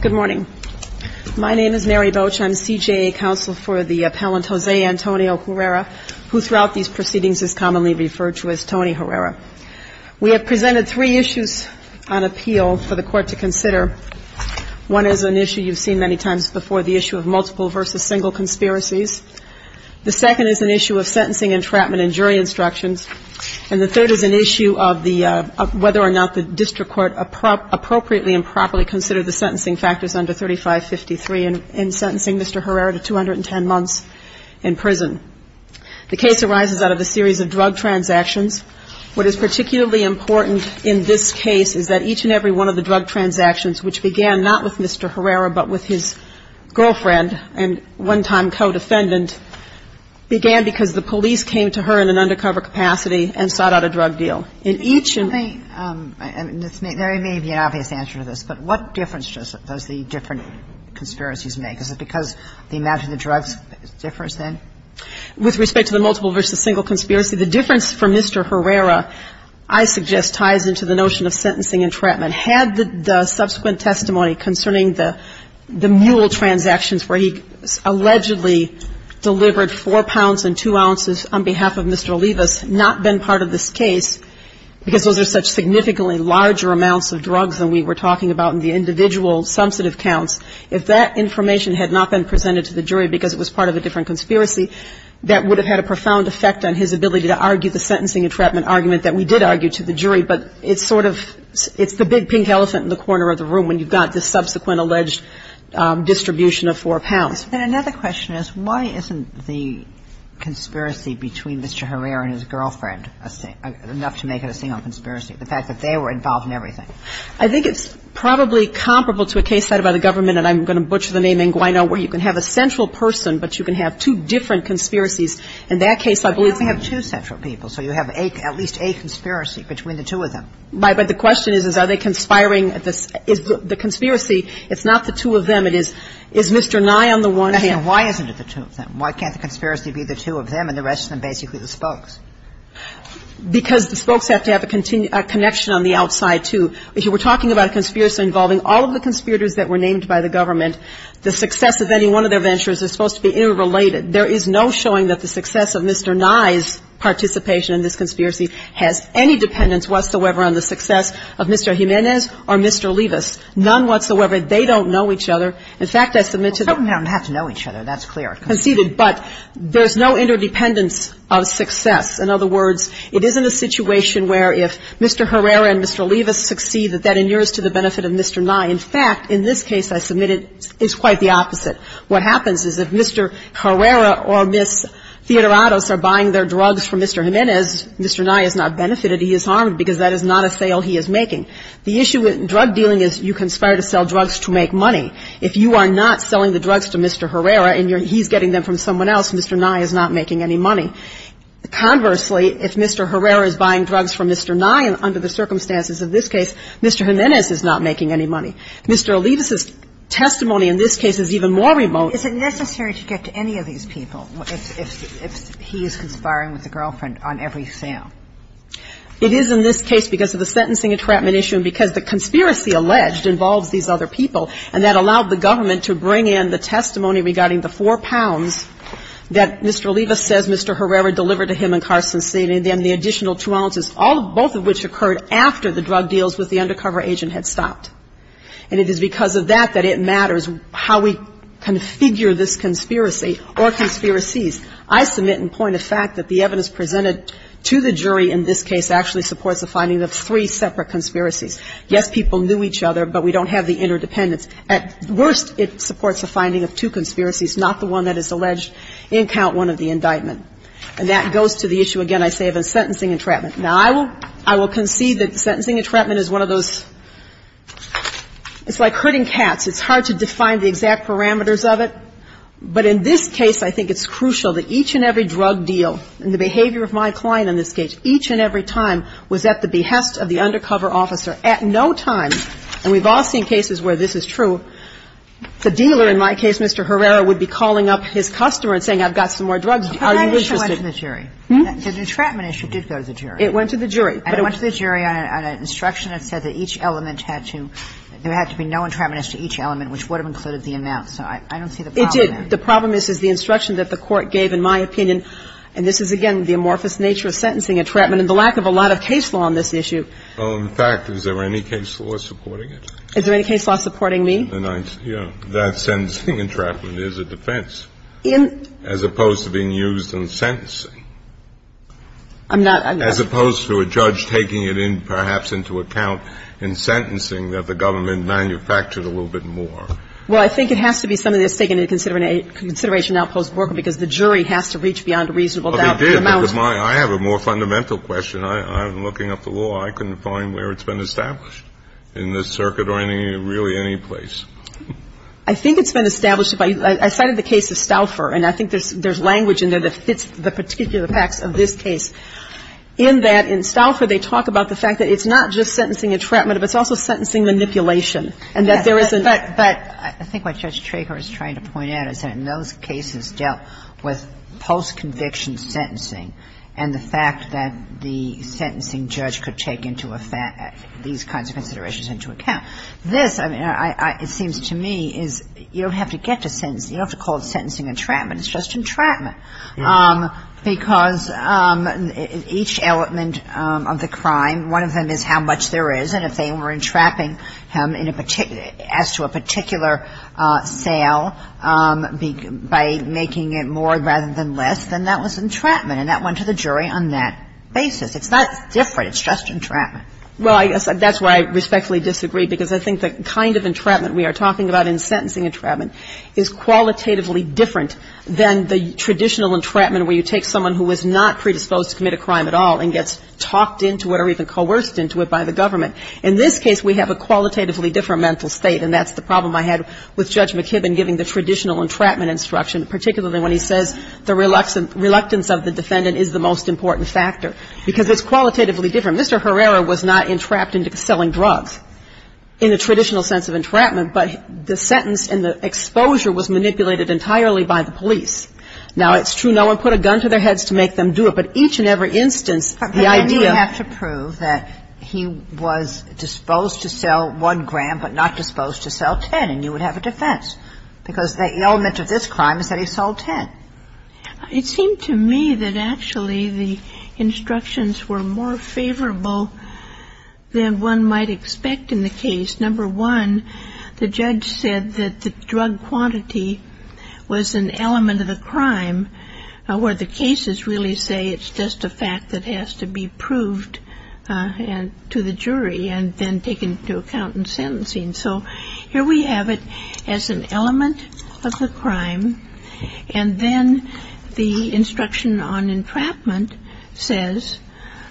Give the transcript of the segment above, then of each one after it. Good morning. My name is Mary Boach. I'm CJA counsel for the appellant Jose Antonio Herrera, who throughout these proceedings is commonly referred to as Tony Herrera. We have presented three issues on appeal for the Court to consider. One is an issue you've seen many times before, the issue of multiple versus single conspiracies. The second is an issue of sentencing, entrapment, and jury instructions. And the third is an issue of whether or not the district court appropriately and properly considered the sentencing factors under 3553 in sentencing Mr. Herrera to 210 months in prison. The case arises out of a series of drug transactions. What is particularly important in this case is that each and every one of the drug transactions, which began not with Mr. Herrera but with his girlfriend and one-time co-defendant, began because the police came to her in an age of 18. And there may be an obvious answer to this, but what difference does the different conspiracies make? Is it because the amount of the drugs differs, then? With respect to the multiple versus single conspiracy, the difference for Mr. Herrera, I suggest, ties into the notion of sentencing entrapment. Had the subsequent testimony concerning the mule transactions where he allegedly delivered 4 pounds and 2 ounces on behalf of Mr. Olivas not been part of this case, because those are such significantly larger amounts of drugs than we were talking about in the individual sum set of counts, if that information had not been presented to the jury because it was part of a different conspiracy, that would have had a profound effect on his ability to argue the sentencing entrapment argument that we did argue to the jury. But it's sort of the big pink elephant in the corner of the room when you've got this subsequent alleged distribution of 4 pounds. And another question is, why isn't the conspiracy between Mr. Herrera and his girlfriend enough to make it a single conspiracy, the fact that they were involved in everything? I think it's probably comparable to a case cited by the government, and I'm going to butcher the name inguino, where you can have a central person, but you can have two different conspiracies. In that case, I believe it's the other way around. But you only have two central people, so you have at least a conspiracy between the two of them. But the question is, is are they conspiring? Is the conspiracy, it's not the two of them, it is Mr. Nye on the one hand. And why isn't it the two of them? Why can't the conspiracy be the two of them and the rest of them basically the spokes? Because the spokes have to have a connection on the outside, too. If you were talking about a conspiracy involving all of the conspirators that were named by the government, the success of any one of their ventures is supposed to be interrelated. There is no showing that the success of Mr. Nye's participation in this conspiracy has any dependence whatsoever on the success of Mr. Jimenez or Mr. Levis, none In fact, I submit to the Well, spokesmen don't have to know each other. That's clear. Conceded. But there's no interdependence of success. In other words, it isn't a situation where if Mr. Herrera and Mr. Levis succeed, that that inures to the benefit of Mr. Nye. In fact, in this case I submitted, it's quite the opposite. What happens is if Mr. Herrera or Ms. Theodorados are buying their drugs from Mr. Jimenez, Mr. Nye is not benefited. He is harmed because that is not a sale he is making. The issue with drug dealing is you conspire to sell drugs to make money. If you are not selling the drugs to Mr. Herrera and he's getting them from someone else, Mr. Nye is not making any money. Conversely, if Mr. Herrera is buying drugs from Mr. Nye under the circumstances of this case, Mr. Jimenez is not making any money. Mr. Levis's testimony in this case is even more remote. Is it necessary to get to any of these people if he is conspiring with a girlfriend on every sale? It is in this case because of the sentencing entrapment issue and because the conspiracy alleged involves these other people and that allowed the government to bring in the testimony regarding the four pounds that Mr. Levis says Mr. Herrera delivered to him in car sensing and then the additional two ounces, both of which occurred after the drug deals with the undercover agent had stopped. And it is because of that that it matters how we configure this conspiracy or conspiracies. I submit and point the fact that the evidence presented to the jury in this case actually supports the finding of three separate conspiracies. Yes, people knew each other, but we don't have the interdependence. At worst, it supports the finding of two conspiracies, not the one that is alleged in count one of the indictment. And that goes to the issue, again, I say of a sentencing entrapment. Now, I will concede that sentencing entrapment is one of those, it's like herding cats. It's hard to define the exact parameters of it. But in this case, I think it's crucial that each and every drug deal and the behavior of my client in this case, each and every time was at the behest of the undercover officer, at no time, and we've all seen cases where this is true, the dealer, in my case, Mr. Herrera, would be calling up his customer and saying, I've got some more drugs, are you interested? But that issue went to the jury. The entrapment issue did go to the jury. It went to the jury. It went to the jury on an instruction that said that each element had to, there had to be no entrapment as to each element, which would have included the amount. So I don't see the problem there. It did. The problem is, is the instruction that the court gave, in my opinion, and this is, again, the amorphous nature of sentencing entrapment and the lack of a lot of case law on this issue. Well, in fact, is there any case law supporting it? Is there any case law supporting me? Yeah. That sentencing entrapment is a defense. In? As opposed to being used in sentencing. I'm not, I'm not. As opposed to a judge taking it in, perhaps, into account in sentencing that the government manufactured a little bit more. Well, I think it has to be something that's taken into consideration now post-Borker because the jury has to reach beyond a reasonable doubt. Well, they did, but my, I have a more fundamental question. I'm looking up the law. I couldn't find where it's been established in this circuit or any, really any place. I think it's been established by, I cited the case of Stauffer, and I think there's language in there that fits the particular facts of this case, in that in Stauffer they talk about the fact that it's not just sentencing entrapment, but it's also sentencing manipulation, and that there isn't. But I think what Judge Trager is trying to point out is that in those cases dealt with post-conviction sentencing and the fact that the sentencing judge could take into effect these kinds of considerations into account, this, I mean, I, I, it seems to me is you don't have to get to sentence, you don't have to call it sentencing entrapment, it's just entrapment because each element of the crime, one of them is how much there is, and if they were entrapping him in a particular, as to a particular sale, by making it more rather than less, then that was entrapment, and that went to the jury on that basis. It's not different, it's just entrapment. Well, I guess that's why I respectfully disagree, because I think the kind of entrapment we are talking about in sentencing entrapment is qualitatively different than the traditional entrapment where you take someone who is not predisposed to commit a crime at all and gets talked into it or even coerced into it by the government. In this case, we have a qualitatively different mental state, and that's the case of Judge McKibben giving the traditional entrapment instruction, particularly when he says the reluctance of the defendant is the most important factor, because it's qualitatively different. Mr. Herrera was not entrapped into selling drugs in the traditional sense of entrapment, but the sentence and the exposure was manipulated entirely by the police. Now, it's true no one put a gun to their heads to make them do it, but each and every instance, the idea of – But then you would have to prove that he was disposed to sell one gram but not because the element of this crime is that he sold 10. It seemed to me that actually the instructions were more favorable than one might expect in the case. Number one, the judge said that the drug quantity was an element of the crime where the cases really say it's just a fact that has to be proved to the jury and then taken into account in sentencing. So here we have it as an element of the crime, and then the instruction on entrapment says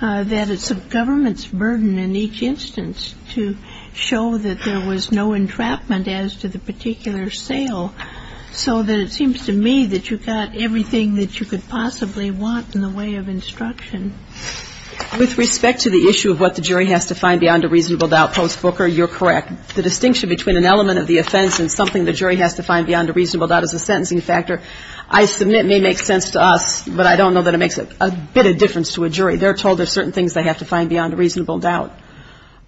that it's the government's burden in each instance to show that there was no entrapment as to the particular sale, so that it seems to me that you got everything that you could possibly want in the way of instruction. With respect to the issue of what the jury has to find beyond a reasonable doubt post-Fooker, you're correct. The distinction between an element of the offense and something the jury has to find beyond a reasonable doubt is the sentencing factor. I submit it may make sense to us, but I don't know that it makes a bit of difference to a jury. They're told there's certain things they have to find beyond a reasonable doubt.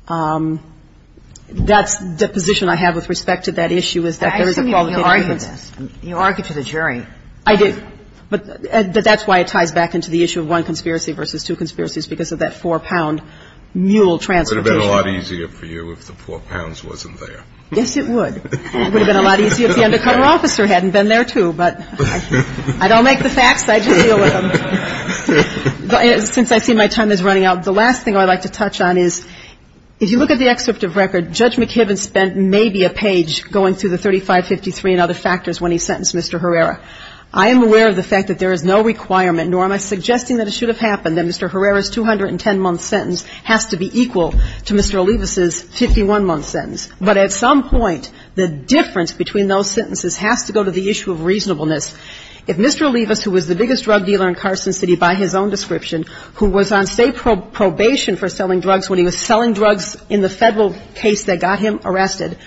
That's the position I have with respect to that issue is that there is a qualification. I assume you argued this. You argued to the jury. I did, but that's why it ties back into the issue of one conspiracy versus two conspiracies, because of that four-pound mule transportation. It would have been a lot easier for you if the four pounds wasn't there. Yes, it would. It would have been a lot easier if the undercutter officer hadn't been there, too, but I don't make the facts. I just deal with them. Since I see my time is running out, the last thing I'd like to touch on is if you look at the excerpt of record, Judge McKibben spent maybe a page going through the 3553 and other factors when he sentenced Mr. Herrera. I am aware of the fact that there is no requirement, nor am I suggesting that it has to be equal to Mr. Olivas's 51-month sentence. But at some point, the difference between those sentences has to go to the issue of reasonableness. If Mr. Olivas, who was the biggest drug dealer in Carson City by his own description, who was on, say, probation for selling drugs when he was selling drugs in the Federal case that got him arrested,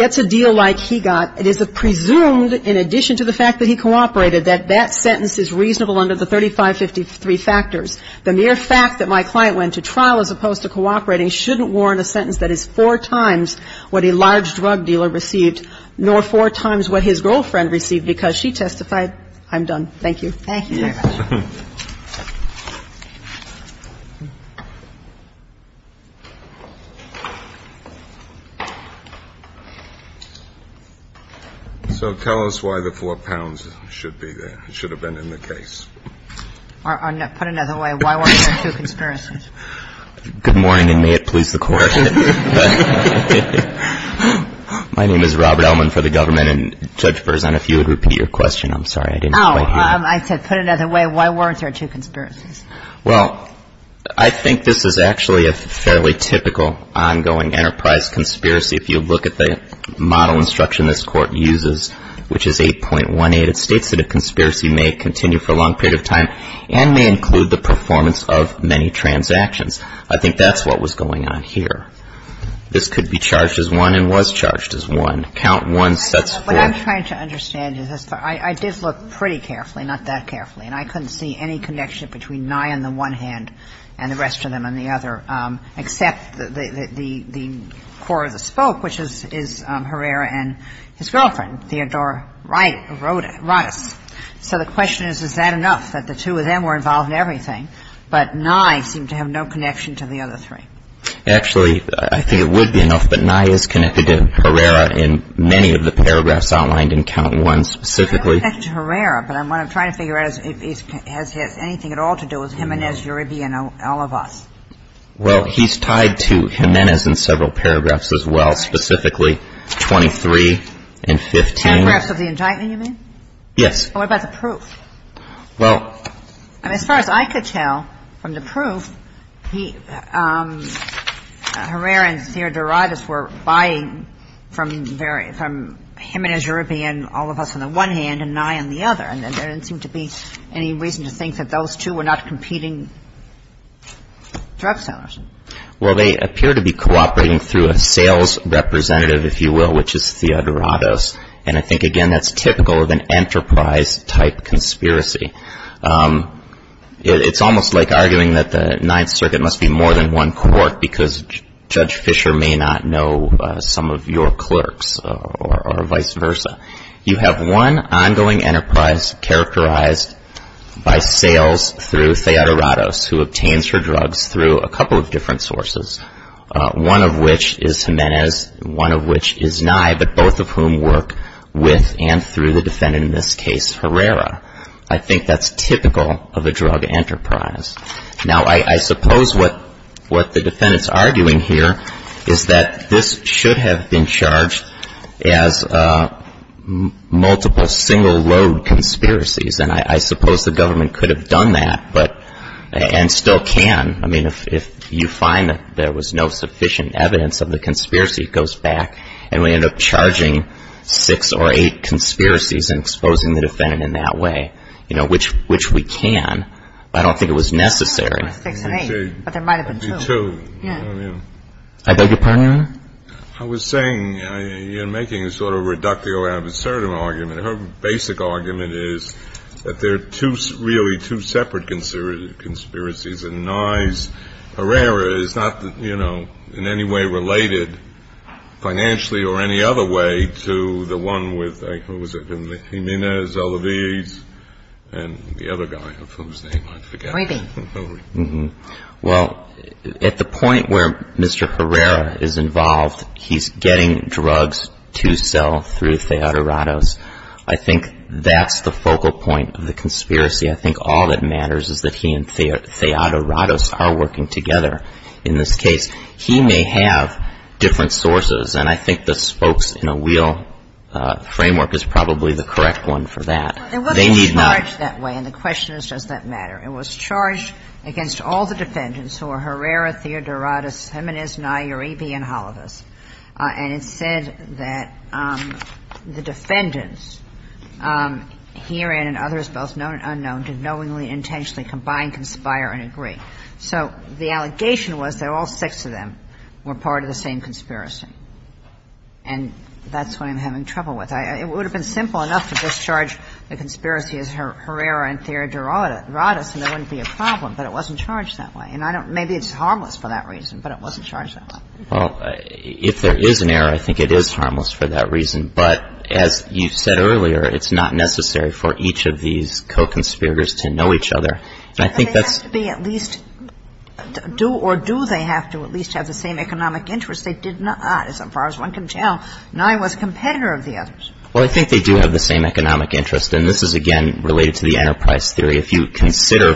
gets a deal like he got, it is presumed, in addition to the fact that he cooperated, that that sentence is reasonable under the 3553 factors, the mere fact that my client went to trial as opposed to cooperating shouldn't warrant a sentence that is four times what a large drug dealer received, nor four times what his girlfriend received because she testified. I'm done. Thank you. Thank you very much. So tell us why the four pounds should be there, should have been in the case. Or put another way, why weren't there two conspiracies? Good morning, and may it please the Court. My name is Robert Ellman for the government. And, Judge Berzon, if you would repeat your question, I'm sorry, I didn't quite hear. Oh, I said put another way, why weren't there two conspiracies? Well, I think this is actually a fairly typical ongoing enterprise conspiracy. If you look at the model instruction this Court uses, which is 8.18, it states that conspiracy may continue for a long period of time and may include the performance of many transactions. I think that's what was going on here. This could be charged as one and was charged as one. Count one sets four. What I'm trying to understand is this. I did look pretty carefully, not that carefully, and I couldn't see any connection between Nye on the one hand and the rest of them on the other, except the core of the So the question is, is that enough, that the two of them were involved in everything, but Nye seemed to have no connection to the other three? Actually, I think it would be enough, but Nye is connected to Herrera in many of the paragraphs outlined in count one specifically. I'm not connected to Herrera, but what I'm trying to figure out is if he has anything at all to do with Jimenez, Uribe, and all of us. Well, he's tied to Jimenez in several paragraphs as well, specifically 23 and 15. Paragraphs of the indictment, you mean? Yes. What about the proof? As far as I could tell from the proof, Herrera and Theodorados were buying from himenez, Uribe, and all of us on the one hand, and Nye on the other, and there didn't seem to be any reason to think that those two were not competing drug sellers. Well, they appear to be cooperating through a sales representative, if you will, which is Theodorados, and I think, again, that's typical of an enterprise-type conspiracy. It's almost like arguing that the Ninth Circuit must be more than one court because Judge Fisher may not know some of your clerks or vice versa. You have one ongoing enterprise characterized by sales through Theodorados, who obtains both of whom work with and through the defendant, in this case, Herrera. I think that's typical of a drug enterprise. Now, I suppose what the defendants are arguing here is that this should have been charged as multiple single load conspiracies, and I suppose the government could have done that and still can. I mean, if you find that there was no sufficient evidence of the conspiracy, it goes back and we end up charging six or eight conspiracies and exposing the defendant in that way, which we can. I don't think it was necessary. Six or eight, but there might have been two. There might have been two. I beg your pardon? I was saying, you're making a sort of reductio ad absurdum argument. Her basic argument is that they're really two separate conspiracies, and Nye's Herrera is not, you know, in any way related, financially or any other way, to the one with, who was it? Jimenez, Elaviz, and the other guy, of whom's name I forget. Well, at the point where Mr. Herrera is involved, he's getting drugs to sell through Theodorados. I think that's the focal point of the conspiracy. I think all that matters is that he and Theodorados are working together in this case. He may have different sources, and I think the spokes in a wheel framework is probably the correct one for that. They need not — But it wasn't charged that way, and the question is, does that matter? It was charged against all the defendants who are Herrera, Theodorados, Jimenez, Nye, Uribe, and Halavas. And it said that the defendants, herein and others, both known and unknown, did knowingly, intentionally combine, conspire, and agree. So the allegation was that all six of them were part of the same conspiracy. And that's what I'm having trouble with. It would have been simple enough to discharge the conspiracy as Herrera and Theodorados, and there wouldn't be a problem, but it wasn't charged that way. And I don't — maybe it's harmless for that reason, but it wasn't charged that way. Well, if there is an error, I think it is harmless for that reason. But as you said earlier, it's not necessary for each of these co-conspirators to know each other. And I think that's — But they have to be at least — do or do they have to at least have the same economic interest? They did not, as far as one can tell. Nye was a competitor of the others. Well, I think they do have the same economic interest, and this is, again, related to the enterprise theory. If you consider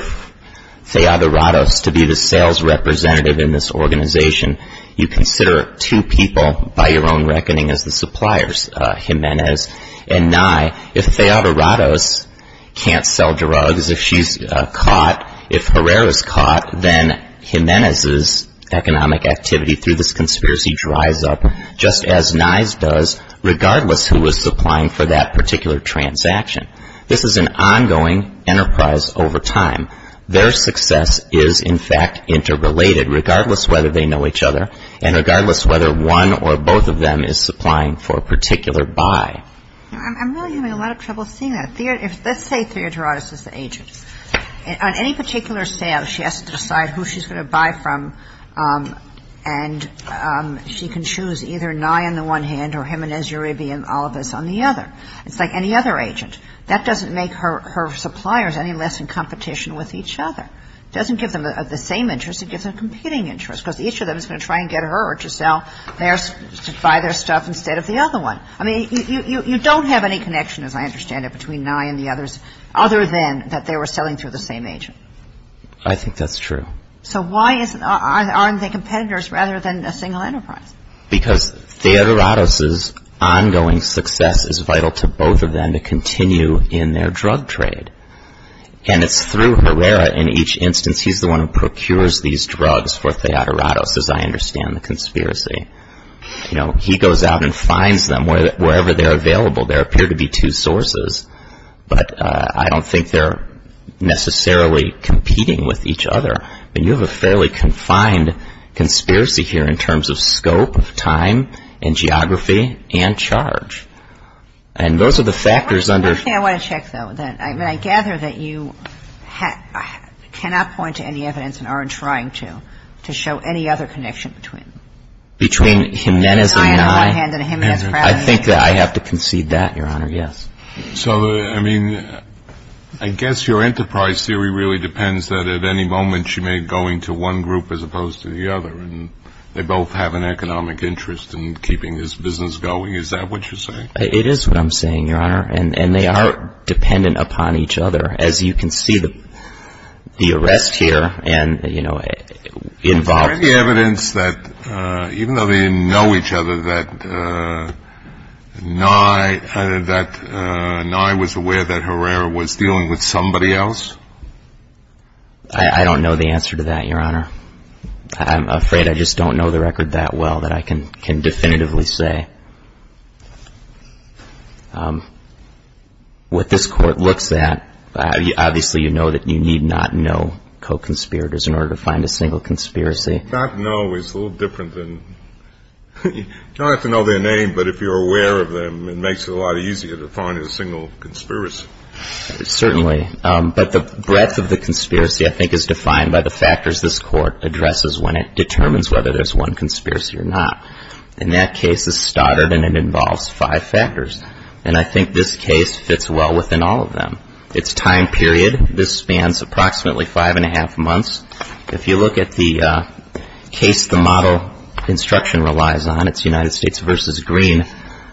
Theodorados to be the sales representative in this organization, you consider two people, by your own reckoning, as the suppliers, Jimenez and Nye. If Theodorados can't sell drugs, if she's caught — if Herrera's caught, then Jimenez's economic activity through this conspiracy dries up, just as Nye's does, regardless who was supplying for that particular transaction. This is an ongoing enterprise over time. Their success is, in fact, interrelated, regardless whether they know each other, and regardless whether one or both of them is supplying for a particular buy. I'm really having a lot of trouble seeing that. Let's say Theodorados is the agent. On any particular sale, she has to decide who she's going to buy from, and she can choose either Nye on the one hand or Jimenez, Uribe, and Olivas on the other. It's like any other agent. That doesn't make her suppliers any less in competition with each other. It doesn't give them the same interests. It gives them competing interests, because each of them is going to try and get her to sell theirs — to buy their stuff instead of the other one. I mean, you don't have any connection, as I understand it, between Nye and the others, other than that they were selling through the same agent. I think that's true. So why aren't they competitors rather than a single enterprise? Because Theodorados's ongoing success is vital to both of them to continue in their drug trade, and it's through Herrera in each instance. He's the one who procures these drugs for Theodorados, as I understand the conspiracy. He goes out and finds them wherever they're available. There appear to be two sources, but I don't think they're necessarily competing with each other. You have a fairly confined conspiracy here in terms of scope, time, and geography, and charge. And those are the factors under — One thing I want to check, though, that — I mean, I gather that you cannot point to any evidence and aren't trying to, to show any other connection between Nye on the one hand and him as perhaps — I think that I have to concede that, Your Honor. Yes. So, I mean, I guess your enterprise theory really depends that at any moment she may be going to one group as opposed to the other. And they both have an economic interest in keeping this business going. Is that what you're saying? It is what I'm saying, Your Honor. And they are dependent upon each other. As you can see, the arrest here and, you know, involved — Even though they know each other, that Nye — that Nye was aware that Herrera was dealing with somebody else? I don't know the answer to that, Your Honor. I'm afraid I just don't know the record that well that I can definitively say. What this Court looks at — obviously, you know that you need not know co-conspirators in order to find a single conspiracy. Not know is a little different than — you don't have to know their name, but if you're aware of them, it makes it a lot easier to find a single conspiracy. Certainly. But the breadth of the conspiracy, I think, is defined by the factors this Court addresses when it determines whether there's one conspiracy or not. And that case is stoddard and it involves five factors. And I think this case fits well within all of them. It's time period. This spans approximately five and a half months. If you look at the case the model instruction relies on, it's United States versus Green.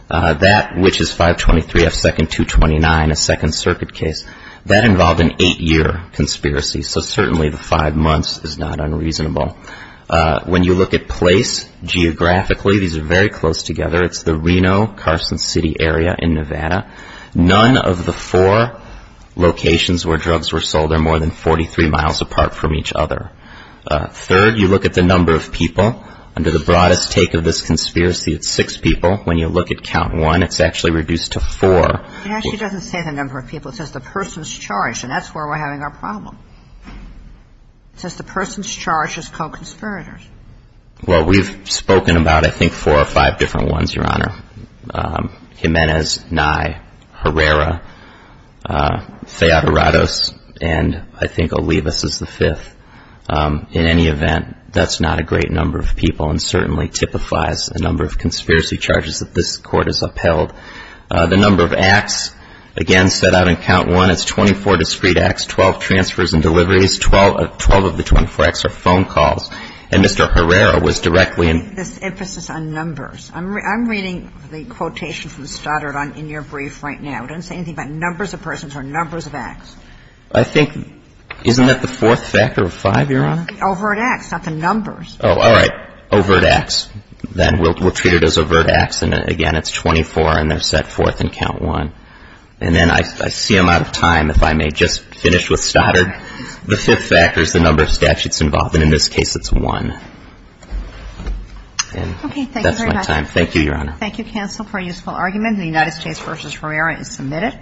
That, which is 523 F. 2nd, 229, a Second Circuit case. That involved an eight-year conspiracy. So certainly the five months is not unreasonable. When you look at place, geographically, these are very close together. It's the Reno-Carson City area in Nevada. None of the four locations where drugs were sold are more than 43 miles apart from each other. Third, you look at the number of people. Under the broadest take of this conspiracy, it's six people. When you look at count one, it's actually reduced to four. It actually doesn't say the number of people. It says the person's charge. And that's where we're having our problem. It says the person's charge is co-conspirators. Well, we've spoken about, I think, four or five different ones, Your Honor. Jimenez, Nye, Herrera, Feodorados, and I think Olivas is the fifth. In any event, that's not a great number of people and certainly typifies the number of conspiracy charges that this Court has upheld. The number of acts, again, set out in count one. It's 24 discrete acts, 12 transfers and deliveries. Twelve of the 24 acts are phone calls. And Mr. Herrera was directly in. I think this emphasis on numbers. I'm reading the quotation from Stoddard in your brief right now. It doesn't say anything about numbers of persons or numbers of acts. I think, isn't that the fourth factor of five, Your Honor? The overt acts, not the numbers. Oh, all right. Overt acts. Then we'll treat it as overt acts. And again, it's 24 and they're set forth in count one. And then I see I'm out of time. If I may just finish with Stoddard. The fifth factor is the number of statutes involved. And in this case, it's one. And that's my time. Thank you, Your Honor. Thank you, counsel, for a useful argument. The United States v. Herrera is submitted.